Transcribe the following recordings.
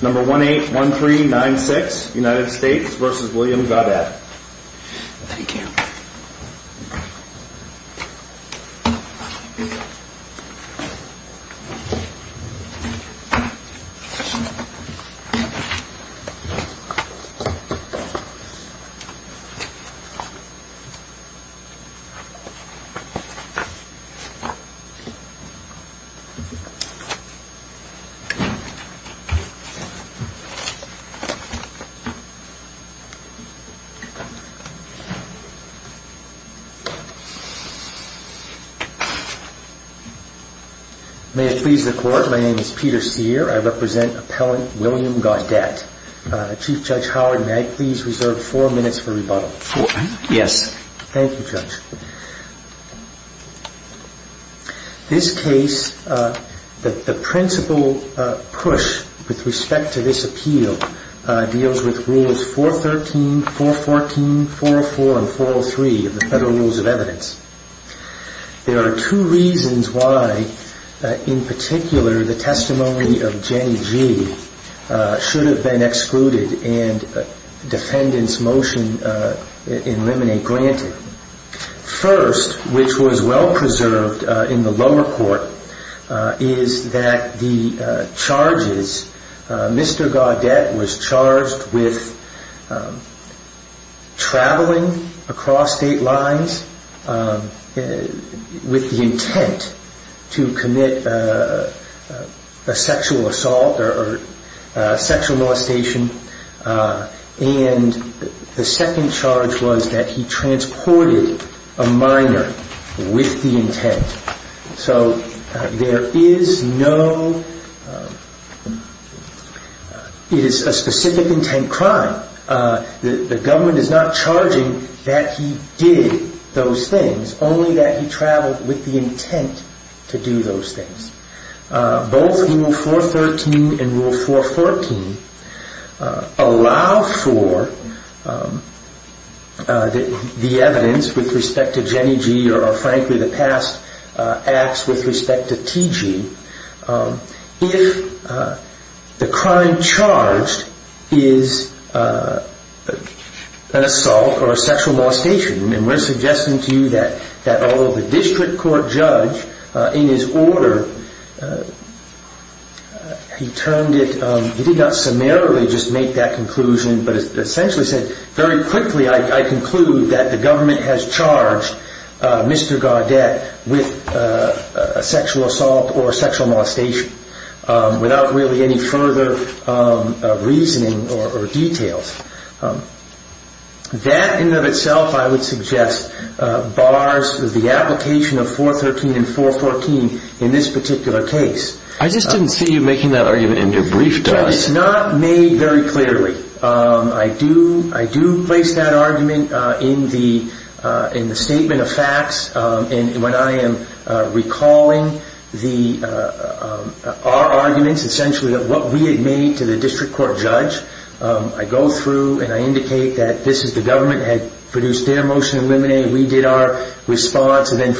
Number 1-813-96 United States v. William Gaudet May it please the Court, my name is Peter Sear, I represent Appellant William Gaudet. Chief Judge Howard, may I please reserve four minutes for rebuttal? Yes. Thank you, Judge. This case, the principle push with respect to this appeal deals with Rules 413, 414, 404, and 403 of the Federal Rules of Evidence. There are two reasons why, in particular, the testimony of Jennie G. should have been excluded and defendant's motion eliminated. First, which was well preserved in the lower court, is that the charges, Mr. assault or sexual molestation, and the second charge was that he transported a minor with the intent. So there is no, it is a specific intent crime. The government is not charging that he did those things, only that he traveled with the intent to do those things. Both in Rule 413 and Rule 414 allow for the evidence with respect to Jennie G. or frankly the past acts with respect to T.G. if the crime charged is an assault or sexual molestation. We are suggesting to you that although the district court judge in his order, he turned it, he did not summarily just make that conclusion, but essentially said, very quickly I conclude that the government has charged Mr. Gaudet with a sexual assault or sexual molestation, without really any further reasoning or details. That in and of itself I would suggest bars the application of 413 and 414 in this particular case. I just didn't see you making that argument in your brief It is not made very clearly. I do place that argument in the statement of facts, and when I am recalling our arguments essentially of what we had made to the district court judge, I go through and I indicate that this is the government had produced their motion and we did our response and then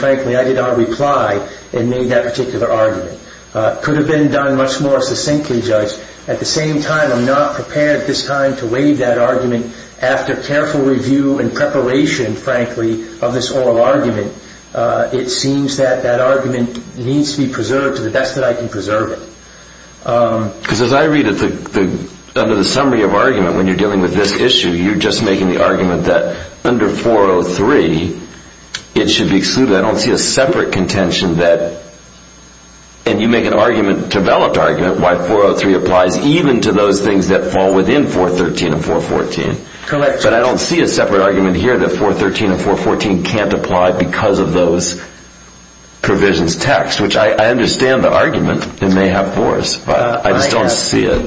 at the same time I am not prepared at this time to waive that argument after careful review and preparation frankly of this oral argument. It seems that that argument needs to be preserved to the best that I can preserve it. Because as I read it, under the summary of argument when you are dealing with this issue, you are just making the argument that under 403 it should be excluded. I don't see a separate contention that, and you make an argument, a developed argument why 403 applies even to those things that fall within 413 and 414. But I don't see a separate argument here that 413 and 414 can't apply because of those provisions text, which I understand the argument and they have force. I just don't see it.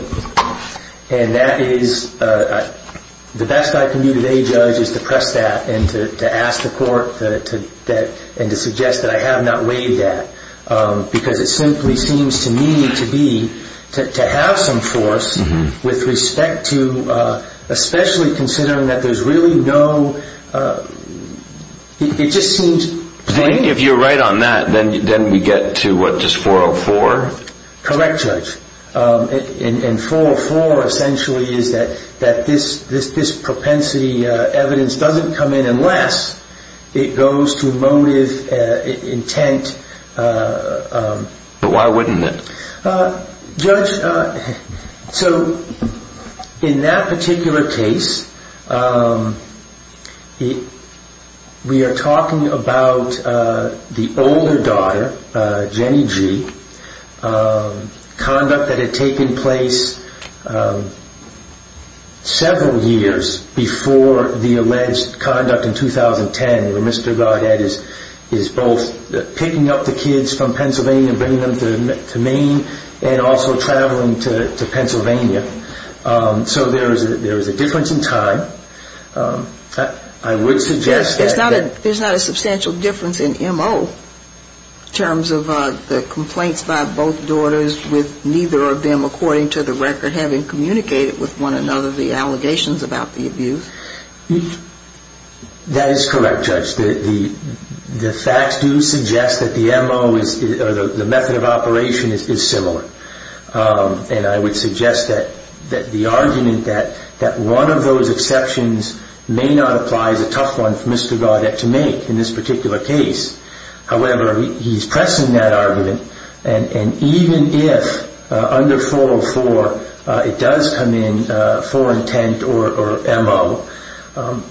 And that is, the best I can do today judge is to press that and to ask the court and to suggest that I have not waived that. Because it simply seems to me to be, to have some force with respect to, especially considering that there is really no, it just seems plain. If you are right on that, then we get to what, just 404? Correct judge. And 404 essentially is that this propensity evidence doesn't come in unless it goes to motive, intent. But why wouldn't it? Judge, so in that particular case, we are talking about the older daughter, Jenny G, conduct that had taken place several years before the alleged conduct in 2010 where Mr. Godhead is both picking up the kids from the scene and also traveling to Pennsylvania. So there is a difference in time. I would suggest that There is not a substantial difference in MO in terms of the complaints by both daughters with neither of them according to the record having communicated with one another the allegations about the abuse. That is correct judge. The facts do suggest that the MO or the method of operation is similar. And I would suggest that the argument that one of those exceptions may not apply is a tough one for Mr. Godhead to make in this particular case. However, he is pressing that argument and even if under 404 it does come in for intent or MO,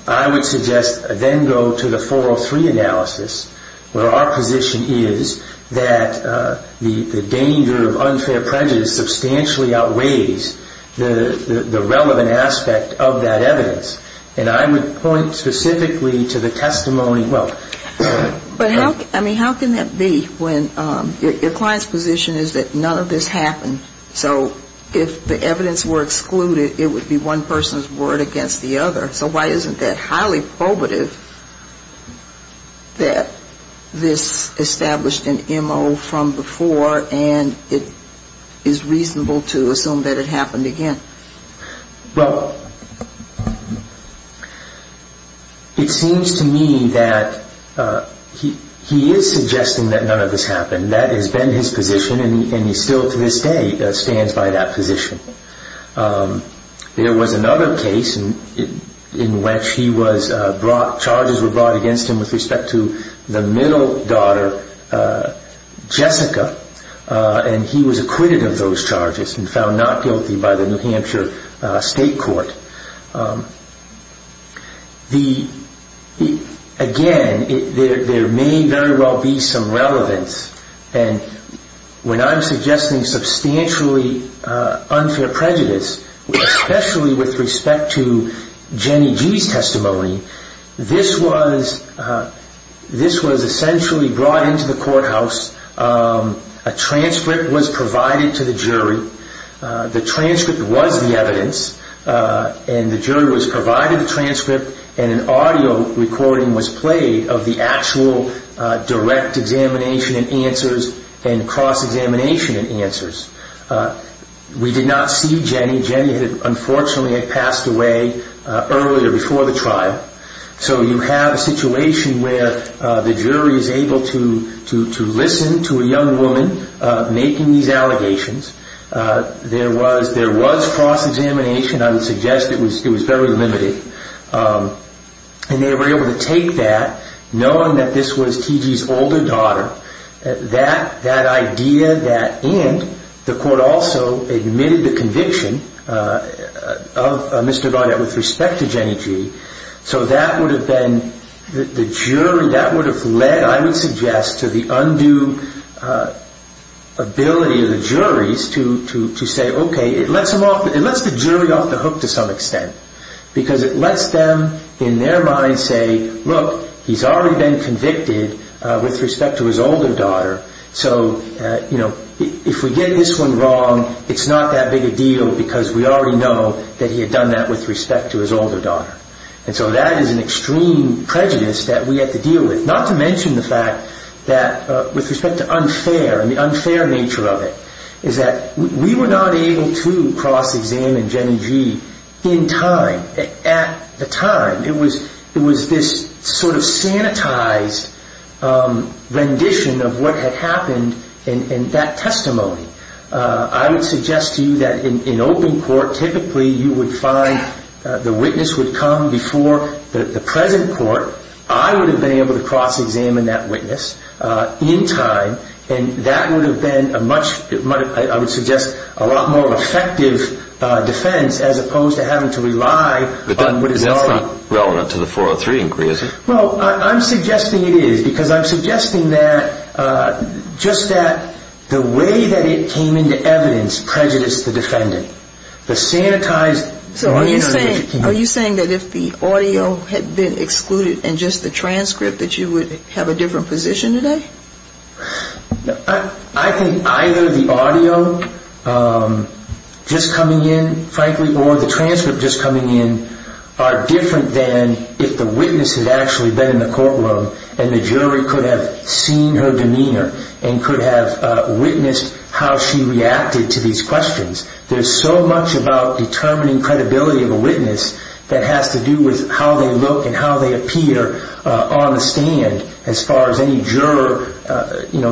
I would suggest then go to the 403 analysis where our position is that the danger of unfair prejudice substantially outweighs the relevant aspect of that evidence. And I would point specifically to the testimony. But how can that be when your client's position is that none of this happened? So if the evidence were excluded, it would be one person's word against the other. So why isn't that highly probative that this established an MO from before and it is reasonable to assume that it happened again? Well, it seems to me that he is suggesting that none of this happened. That has been his position and he still to this day stands by that position. There was another case in which charges were brought against him with respect to the middle daughter, Jessica, and he was acquitted of those charges and found not guilty by the New Hampshire State unfair prejudice, especially with respect to Jenny G's testimony. This was essentially brought into the courthouse. A transcript was provided to the jury. The transcript was the evidence and the jury was provided the transcript and an audio recording was played of the actual direct examination and answers and cross-examination and answers. We did not see Jenny. Jenny, unfortunately, had passed away earlier before the trial. So you have a situation where the jury is able to listen to a There was cross-examination. I would suggest it was very limited. And they were able to take that, knowing that this was T.G.'s older daughter, that idea and the court also admitted the conviction of Mr. Garnett with respect to Jenny G. So that would have led, I would suggest, to the undue ability of the juries to say, okay, it lets the jury off the hook to some extent. Because it lets them in their mind say, look, he's already been convicted with respect to his older daughter. So if we get this one wrong, it's not that big a deal because we already know that he had done that with respect to his older daughter. So that is an extreme prejudice that we have to deal with. Not to mention the fact that, with respect to unfair and the unfair nature of it, is that we were not able to cross-examine Jenny G. in time. It was this sort of sanitized rendition of what had happened in that testimony. I would suggest to you that in open court, typically you would find the witness would come before the present court. I would have been able to cross-examine that witness in time. And that would have been a much I would suggest a lot more effective defense as opposed to having to rely on what is already... But that's not relevant to the 403 inquiry, is it? Well, I'm suggesting it is. Because I'm suggesting that just that the way that it came into evidence prejudiced the defendant. The sanitized... So are you saying that if the audio had been excluded and just the transcript, that you would have a different position today? I think either the audio just coming in, frankly, or the transcript just coming in are different than if the witness had actually been in the courtroom and the jury could have seen her demeanor and could have witnessed how she reacted to these questions. There's so much about determining credibility of a witness that has to do with how they look and how they appear on the stand as far as any juror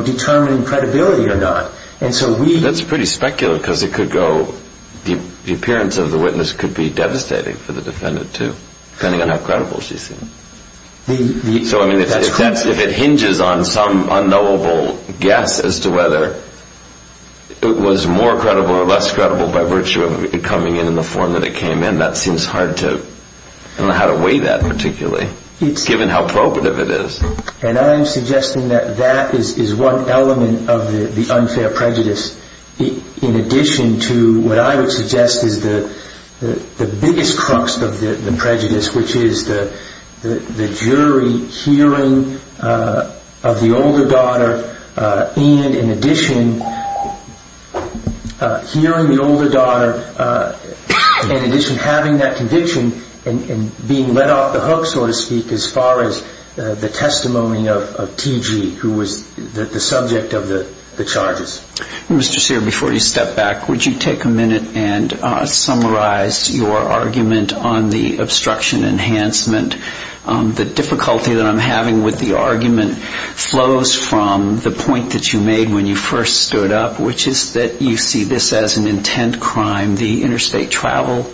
determining credibility or not. That's pretty speculative because the appearance of the witness could be devastating for the defendant too, depending on how credible she seemed. So if it hinges on some unknowable guess as to whether it was more credible or less credible by virtue of it coming in in the form that it came in, that seems hard to weigh that particularly, given how probative it is. And I'm suggesting that that is one element of the unfair prejudice. In addition to what I would suggest is the biggest crux of the prejudice, which is the jury hearing of the older daughter and, in addition, hearing the older daughter in addition to having that conviction and being let off the hook, so to speak, as far as the testimony of T.G., who was the subject of the charges. Mr. Sear, before you step back, would you take a minute and summarize your argument on the obstruction enhancement? The difficulty that I'm having with the argument flows from the point that you made when you first stood up, which is that you see this as an intent crime, the interstate travel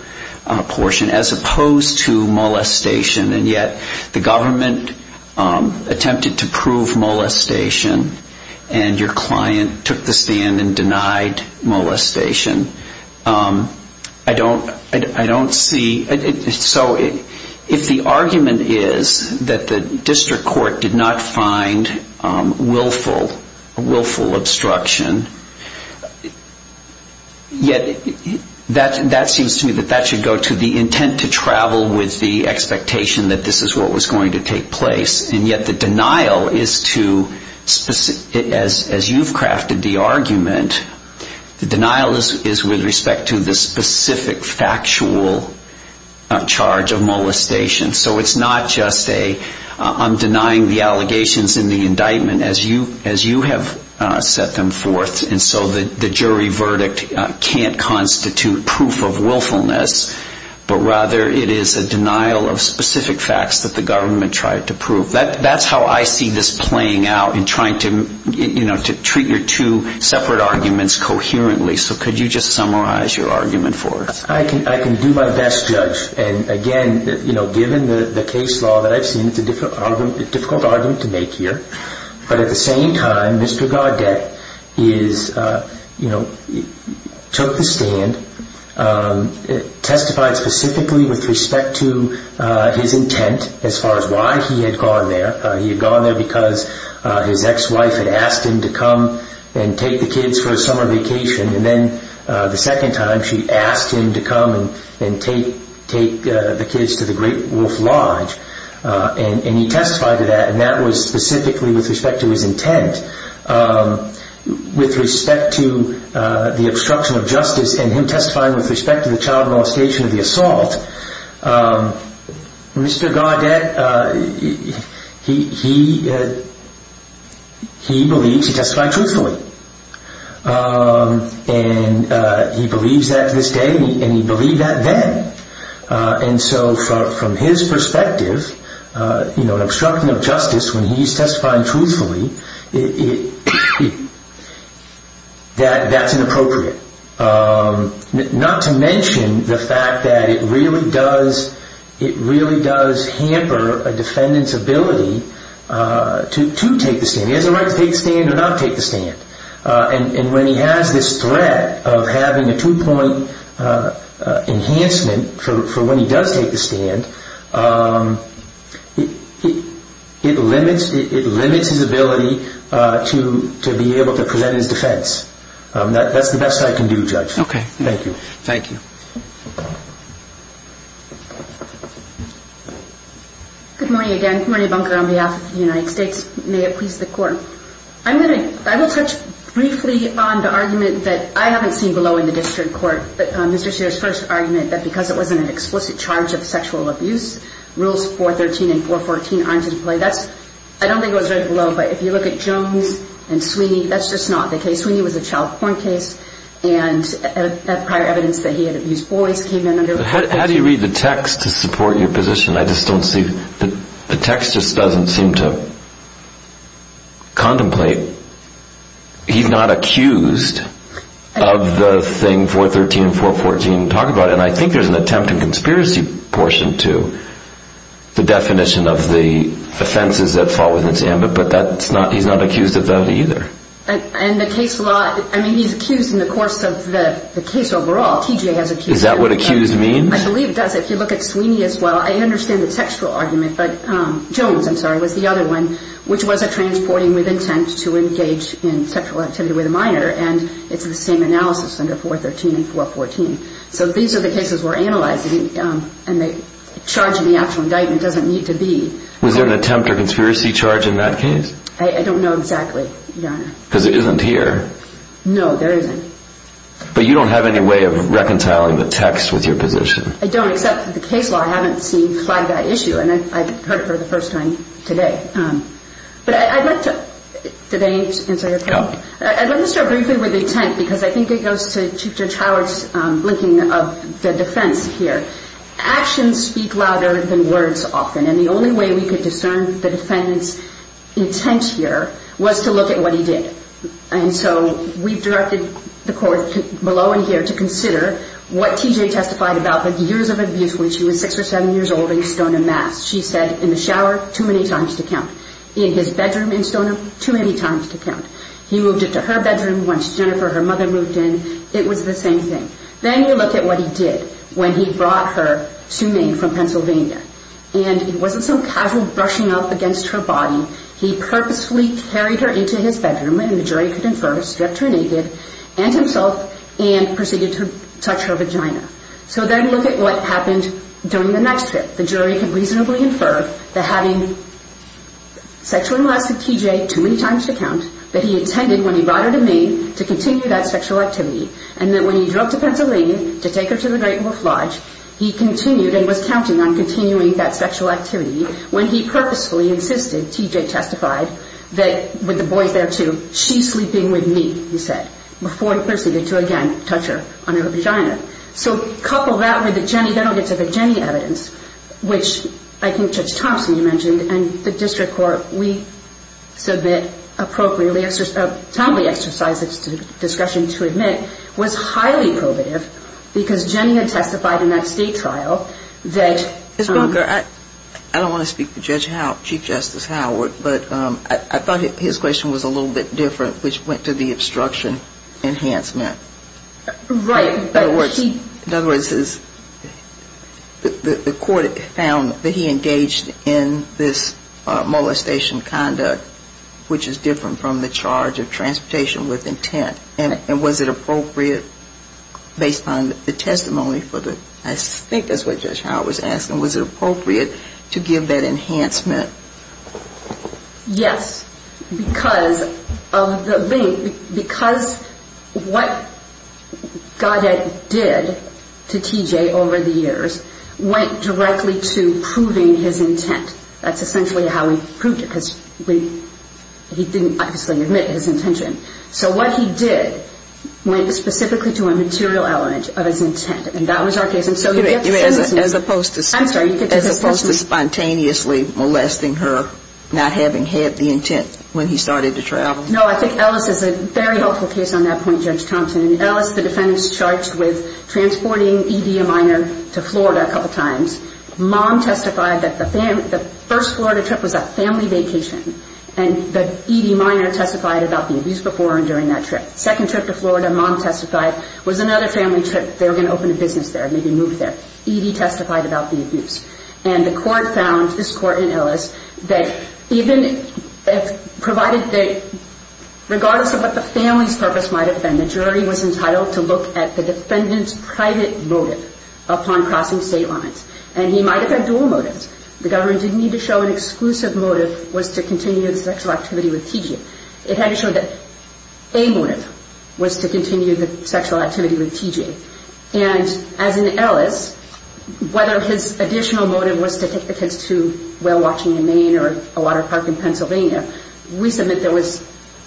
portion, as opposed to molestation. And yet the government attempted to prove molestation, and your client took the stand and denied molestation. I don't see so if the argument is that the district court did not find willful obstruction, yet that seems to me that that should go to the intent to travel with the expectation that this is what was going to take place. And yet the denial is to, as you've crafted the argument, the denial is with respect to the specific factual charge of molestation. So it's not just a I'm denying the allegations in the indictment, as you have set them forth, and so the jury verdict can't constitute proof of willfulness, but rather it is a denial of specific facts that the government tried to prove. That's how I see this playing out in trying to treat your two separate arguments coherently. So could you just summarize your argument for us? I can do my best, Judge. And again, given the case law that I've seen, it's a difficult argument to make here. But at the same time, Mr. Gaudette took the stand, testified specifically with respect to his intent as far as why he had gone there. He had gone there because his ex-wife had asked him to come and take the kids for a summer vacation, and then the second time she asked him to come and take the kids to the Great Wolf Lodge. And he testified to that, and that was specifically with respect to his intent. With respect to the obstruction of justice and him testifying with respect to the child molestation of the assault, Mr. Gaudette, he believes, he testified truthfully, and he believes that to this day, and he believed that then. And so from his perspective, an obstruction of justice when he's testifying truthfully, that's inappropriate. Not to mention the fact that it really does hamper a defendant's ability to take the stand. He has a right to take the stand or not take the stand. And when he has this threat of having a two-point enhancement for when he does take the stand, it limits his ability to be able to present his defense. That's the best I can do, Judge. Okay. Thank you. Thank you. Good morning again. I'm Marnie Bunker on behalf of the United States. May it please the Court. I'm going to, I will touch briefly on the argument that I haven't seen below in the district court, Mr. Shearer's first argument that because it wasn't an explicit charge of sexual abuse, Rules 413 and 414 aren't in play. That's, I don't think it was right below, but if you look at Jones and Sweeney, that's just not the case. Sweeney was a child porn case, and prior evidence that he had abused boys came in under... How do you read the text to support your position? I just don't see, the text just doesn't seem to contemplate. He's not accused of the thing 413 and 414 talk about, and I think there's an attempt and conspiracy portion to the definition of the offenses that fall within its ambit, but that's not, he's not accused of that either. And the case law, I mean, he's accused in the course of the case overall. TJ has accused him. Is that what accused means? I believe it does. If you look at Sweeney as well, I understand the textual argument, but Jones, I'm sorry, was the other one, which was a transporting with intent to engage in sexual activity with a minor, and it's the same analysis under 413 and 414. So these are the cases we're analyzing, and the charge in the actual indictment doesn't need to be. Was there an attempt or conspiracy charge in that case? I don't know exactly, Your Honor. Because it isn't here. No, there isn't. But you don't have any way of reconciling the text with your position. I don't, except for the case law. I haven't seen quite that issue, and I've heard it for the first time today. But I'd like to, did I answer your question? No. Let me start briefly with the intent, because I think it goes to Chief Judge Howard's linking of the defense here. Actions speak louder than words often, and the only way we could discern the defendant's intent here was to look at what he did. And so we've directed the court below and here to consider what TJ testified about the years of abuse when she was 6 or 7 years old in Stoneham, Mass. She said, in the shower, too many times to count. In his bedroom in Stoneham, too many times to count. He moved it to her bedroom once Jennifer, her mother, moved in. It was the same thing. Then you look at what he did when he brought her to Maine from Pennsylvania, and it wasn't some casual brushing up against her body. He purposefully carried her into his bedroom, and the jury could infer stripped her naked, and himself, and proceeded to touch her vagina. So then look at what happened during the next trip. The jury could reasonably infer that having sexually molested TJ too many times to count, that he intended when he brought her to Maine to continue that sexual activity, and that when he drove to Pennsylvania to take her to the Great Wolf Lodge, he continued and was counting on continuing that sexual activity when he purposefully insisted, TJ testified, that with the boys there, too, she's sleeping with me, he said, before he proceeded to, again, touch her on her vagina. So couple that with the Jennie evidence, which I think Judge Thompson, you mentioned, and the district court, we submit appropriately, a timely exercise of discussion to admit was highly probative because Jennie had testified in that state trial that Ms. Bunker, I don't want to speak for Chief Justice Howard, but I thought his question was a little bit different, which went to the obstruction enhancement. Right. In other words, the court found that he engaged in this molestation conduct, which is different from the charge of transportation with intent, and was it appropriate based on the testimony for the I think that's what Judge Howard was asking. Was it appropriate to give that enhancement? Yes, because of the link, because what Goddard did to TJ over the years went directly to proving his intent. That's essentially how he proved it, because he didn't obviously admit his intention. So what he did went specifically to a material element of his intent, and that was our case. As opposed to spontaneously molesting her, not having had the intent when he started to travel. No, I think Ellis is a very helpful case on that point, Judge Thompson. In Ellis, the defendant's charged with transporting ED a minor to Florida a couple times. Mom testified that the first Florida trip was a family vacation, and the ED minor testified about the abuse before and during that trip. Second trip to Florida, Mom testified, was another family trip. They were going to open a business there, maybe move there. ED testified about the abuse, and the court found, this court in Ellis, that even if provided that regardless of what the family's purpose might have been, the jury was entitled to look at the defendant's private motive upon crossing state lines, and he might have had dual motives. The government didn't need to show an exclusive motive was to continue the sexual activity with TJ. It had to show that a motive was to continue the sexual activity with TJ. And as in Ellis, whether his additional motive was to take the kids to whale watching in Maine or a water park in Pennsylvania, we submit there was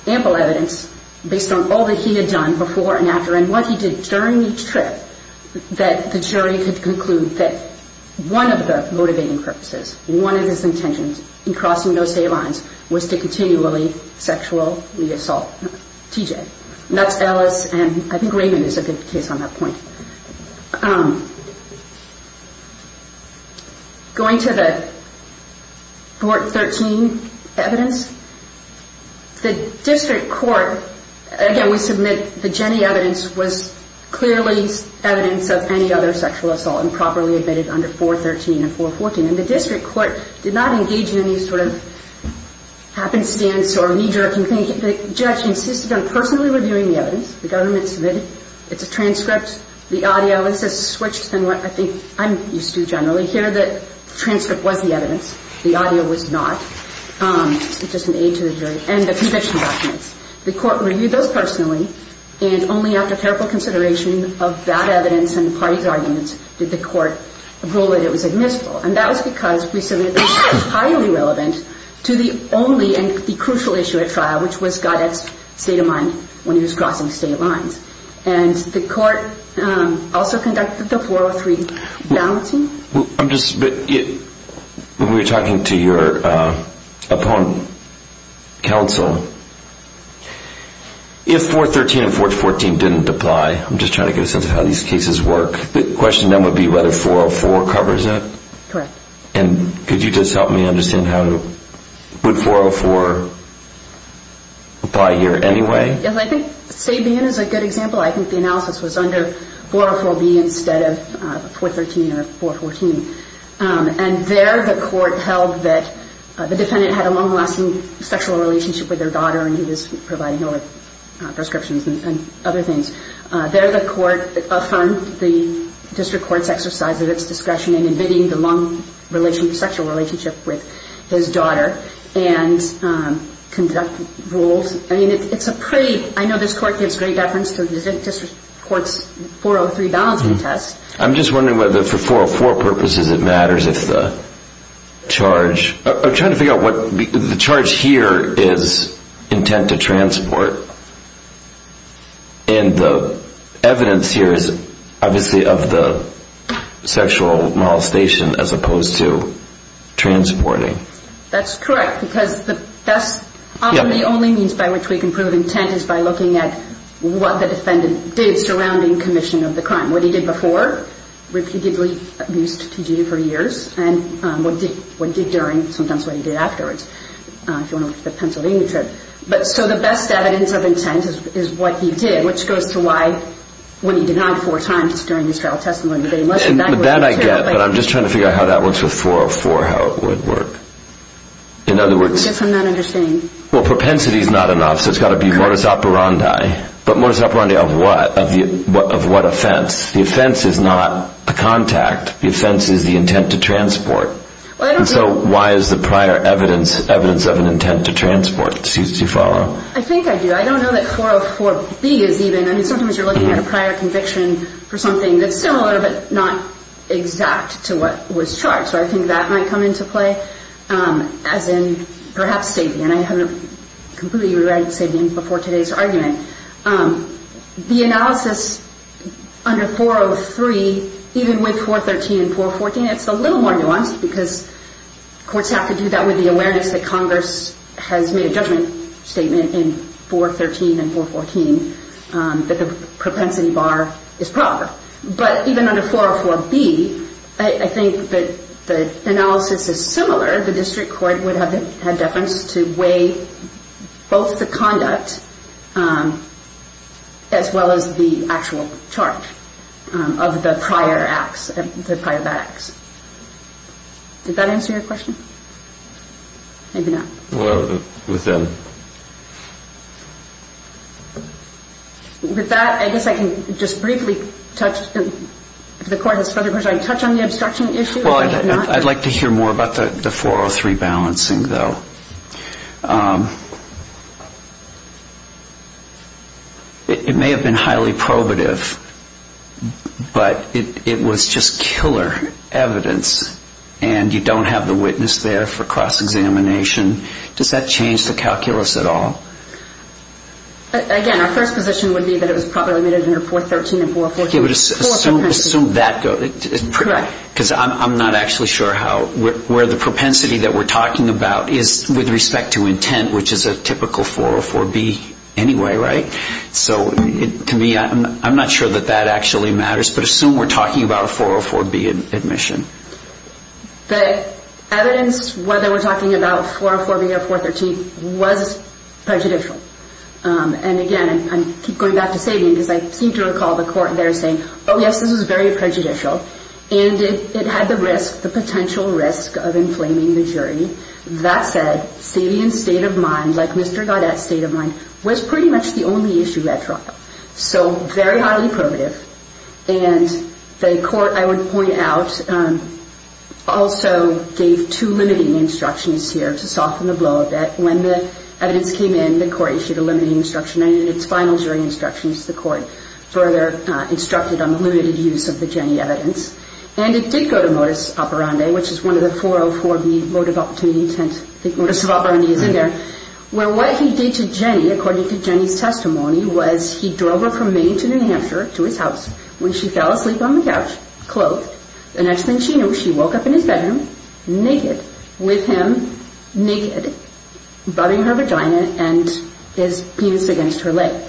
ample evidence, based on all that he had done before and after, and what he did during each trip, that the jury could conclude that one of the motivating purposes, one of his intentions in crossing those state lines was to continually sexually assault TJ. And that's Ellis, and I think Raymond is a good case on that point. Going to the Court 13 evidence, the district court, again, we submit the Jenny evidence was clearly evidence of any other sexual assault and properly admitted under 413 and 414. And the district court did not engage in any sort of happenstance or knee-jerking thing. The judge insisted on personally reviewing the evidence. The government submitted it. It's a transcript. The audio is switched than what I think I'm used to generally. Here, the transcript was the evidence. The audio was not. It's just an aid to the jury. And the conviction documents, the court reviewed those personally, and only after careful consideration of that evidence and the party's arguments did the court rule that it was admissible. And that was because we submitted this highly relevant to the only and the crucial issue at trial, which was Goddard's state of mind when he was crossing state lines. And the court also conducted the 403 balancing. When we were talking to your opponent counsel, if 413 and 414 didn't apply, I'm just trying to get a sense of how these cases work, the question then would be whether 404 covers it. Correct. And could you just help me understand how to, would 404 apply here anyway? Yes, I think Sabian is a good example. I think the analysis was under 404B instead of 413 or 414. And there the court held that the defendant had a long-lasting sexual relationship with their daughter and he was providing her with prescriptions and other things. There the court affirmed the district court's exercise of its discretion in admitting the long sexual relationship with his daughter and conducted rules. I mean, it's a pretty, I know this court gives great reference to the district court's 403 balancing test. I'm just wondering whether for 404 purposes it matters if the charge, I'm trying to figure out what, the charge here is intent to transport and the evidence here is obviously of the sexual molestation as opposed to transporting. That's correct because that's often the only means by which we can prove intent is by looking at what the defendant did surrounding commission of the crime. What he did before, repeatedly abused T.G. for years, and what he did during, sometimes what he did afterwards. If you want to look at the Pennsylvania trip. So the best evidence of intent is what he did, which goes to why when he denied four times during his trial testimony that he must have done it. That I get, but I'm just trying to figure out how that works with 404, how it would work. In other words, Yes, I'm not understanding. Well, propensity is not enough, so it's got to be modus operandi. But modus operandi of what? Of what offense? The offense is not the contact. The offense is the intent to transport. So why is the prior evidence evidence of an intent to transport? Do you follow? I think I do. I don't know that 404B is even, I mean sometimes you're looking at a prior conviction for something that's similar but not exact to what was charged. So I think that might come into play as in perhaps Sabian. I haven't completely re-read Sabian before today's argument. The analysis under 403, even with 413 and 414, it's a little more nuanced because courts have to do that with the awareness that Congress has made a judgment statement in 413 and 414 that the propensity bar is proper. But even under 404B, I think that the analysis is similar. The district court would have had deference to weigh both the conduct as well as the actual charge of the prior acts, the prior bad acts. Did that answer your question? Maybe not. Well, within. With that, I guess I can just briefly touch, if the court has further questions, I can touch on the obstruction issue. Well, I'd like to hear more about the 403 balancing though. It may have been highly probative, but it was just killer evidence and you don't have the witness there for cross-examination. Does that change the calculus at all? Again, our first position would be that it was probably made under 413 and 414. Okay, but assume that. Correct. Because I'm not actually sure where the propensity that we're talking about is with respect to intent, which is a typical 404B anyway, right? So to me, I'm not sure that that actually matters, but assume we're talking about a 404B admission. The evidence whether we're talking about 404B or 413 was prejudicial. And again, I keep going back to Sabian because I seem to recall the court there saying, oh, yes, this is very prejudicial. And it had the potential risk of inflaming the jury. That said, Sabian's state of mind, like Mr. Gaudet's state of mind, was pretty much the only issue at trial, so very highly probative. And the court, I would point out, also gave two limiting instructions here to soften the blow a bit. When the evidence came in, the court issued a limiting instruction and in its final jury instructions, the court further instructed on the limited use of the Jenny evidence. And it did go to modus operandi, which is one of the 404B motive-opportunity intent. I think modus operandi is in there. Where what he did to Jenny, according to Jenny's testimony, was he drove her from Maine to New Hampshire to his house. When she fell asleep on the couch, clothed, the next thing she knew, she woke up in his bedroom naked, with him naked, rubbing her vagina and his penis against her leg.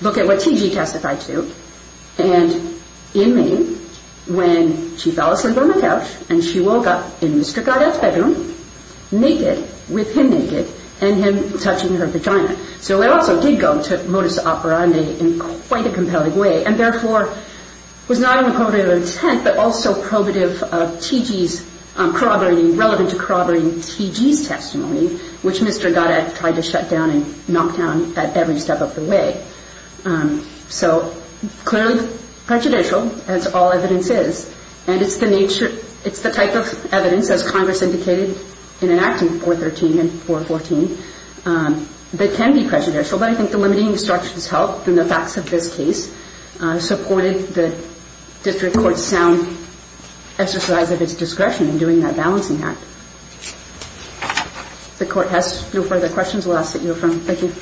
Look at what T.G. testified to. And in Maine, when she fell asleep on the couch, and she woke up in Mr. Gaudet's bedroom, naked, with him naked, and him touching her vagina. So it also did go to modus operandi in quite a compelling way and therefore was not only probative of intent, but also probative of T.G.'s corroborating, relevant to corroborating T.G.'s testimony, which Mr. Gaudet tried to shut down and knock down at every step of the way. So clearly prejudicial, as all evidence is. And it's the nature, it's the type of evidence, as Congress indicated in an act in 413 and 414, that can be prejudicial. But I think the limiting instructions held in the facts of this case supported the district court's sound exercise of its discretion in doing that balancing act. If the court has no further questions, we'll ask that you affirm. Thank you.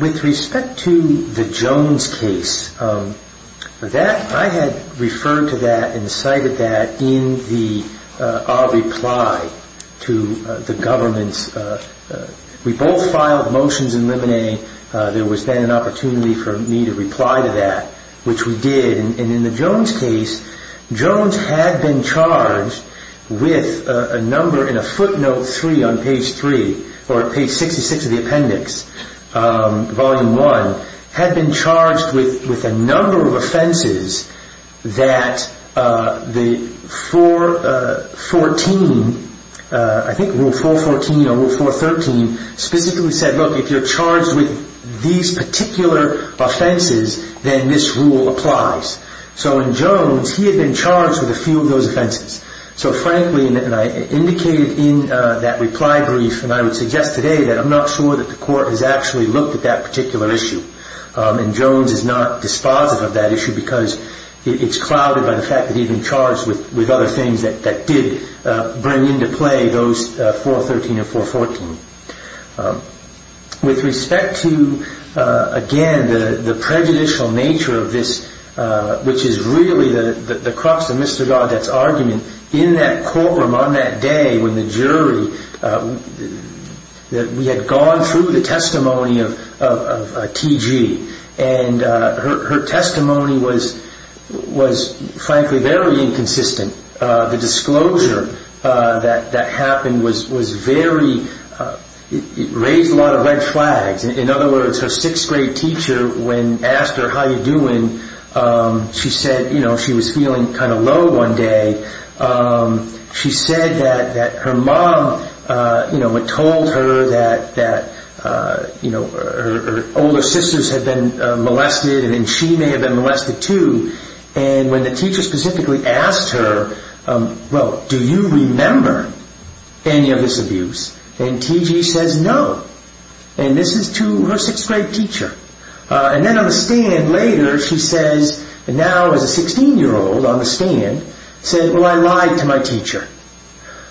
With respect to the Jones case, I had referred to that and cited that in our reply to the government. We both filed motions eliminating. There was then an opportunity for me to reply to that, which we did. And in the Jones case, Jones had been charged with a number in a footnote 3 on page 3, or page 66 of the appendix, volume 1, had been charged with a number of offenses that the 414, I think Rule 414 or Rule 413, specifically said, look, if you're charged with these particular offenses, then this rule applies. So in Jones, he had been charged with a few of those offenses. So frankly, and I indicated in that reply brief, and I would suggest today that I'm not sure that the court has actually looked at that particular issue. And Jones is not dispositive of that issue because it's clouded by the fact that he'd been charged with other things that did bring into play those 413 or 414. With respect to, again, the prejudicial nature of this, which is really the crux of Mr. Gaudet's argument, in that courtroom on that day when the jury, we had gone through the testimony of T.G. Her testimony was, frankly, very inconsistent. The disclosure that happened was very, it raised a lot of red flags. In other words, her 6th grade teacher, when asked her how you're doing, she said she was feeling kind of low one day. She said that her mom had told her that her older sisters had been molested, and she may have been molested too. And when the teacher specifically asked her, well, do you remember any of this abuse? And T.G. says no. And this is to her 6th grade teacher. And then on the stand later, she says, and now as a 16-year-old on the stand, said, well, I lied to my teacher.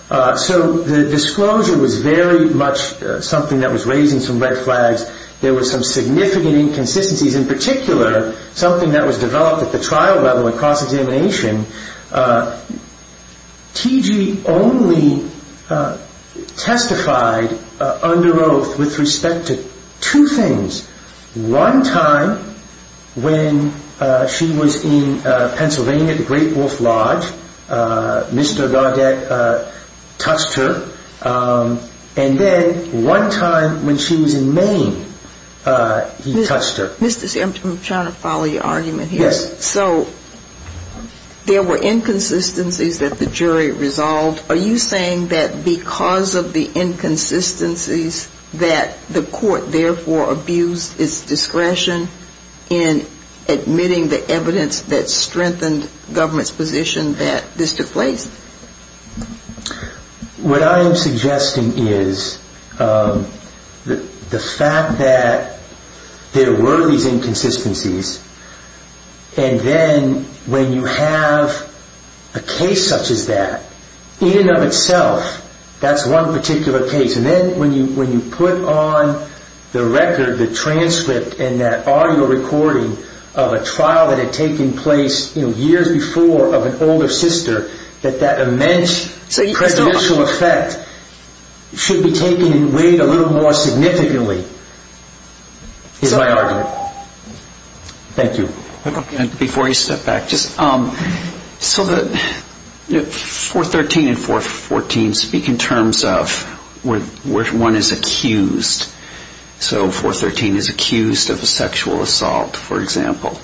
So the disclosure was very much something that was raising some red flags. There were some significant inconsistencies, in particular something that was developed at the trial level and cross-examination. T.G. only testified under oath with respect to two things. One time when she was in Pennsylvania at the Great Wolf Lodge, Mr. Gardak touched her. And then one time when she was in Maine, he touched her. Mr. C., I'm trying to follow your argument here. Yes. So there were inconsistencies that the jury resolved. Are you saying that because of the inconsistencies, that the court therefore abused its discretion in admitting the evidence that strengthened government's position that this took place? What I am suggesting is the fact that there were these inconsistencies, and then when you have a case such as that, in and of itself, that's one particular case, and then when you put on the record, the transcript and that audio recording of a trial that had taken place years before of an older sister, that that immense presidential effect should be taken and weighed a little more significantly, is my argument. Thank you. Before you step back, 413 and 414 speak in terms of where one is accused. So 413 is accused of a sexual assault, for example.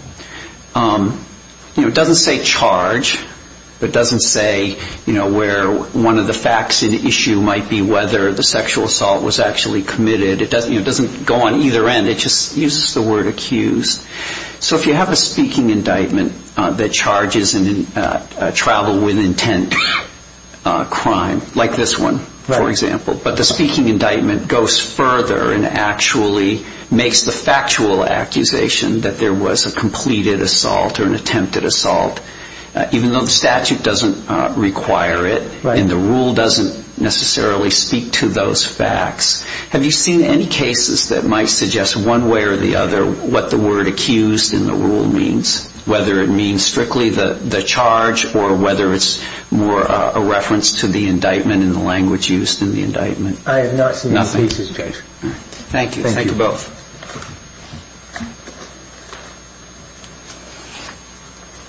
It doesn't say charge, but it doesn't say where one of the facts in the issue might be whether the sexual assault was actually committed. It doesn't go on either end. It just uses the word accused. So if you have a speaking indictment that charges travel with intent crime, like this one, for example, but the speaking indictment goes further and actually makes the factual accusation that there was a completed assault or an attempted assault, even though the statute doesn't require it and the rule doesn't necessarily speak to those facts, have you seen any cases that might suggest one way or the other what the word accused in the rule means, whether it means strictly the charge or whether it's more a reference to the indictment and the language used in the indictment? I have not seen these cases, Judge. Thank you. Thank you both.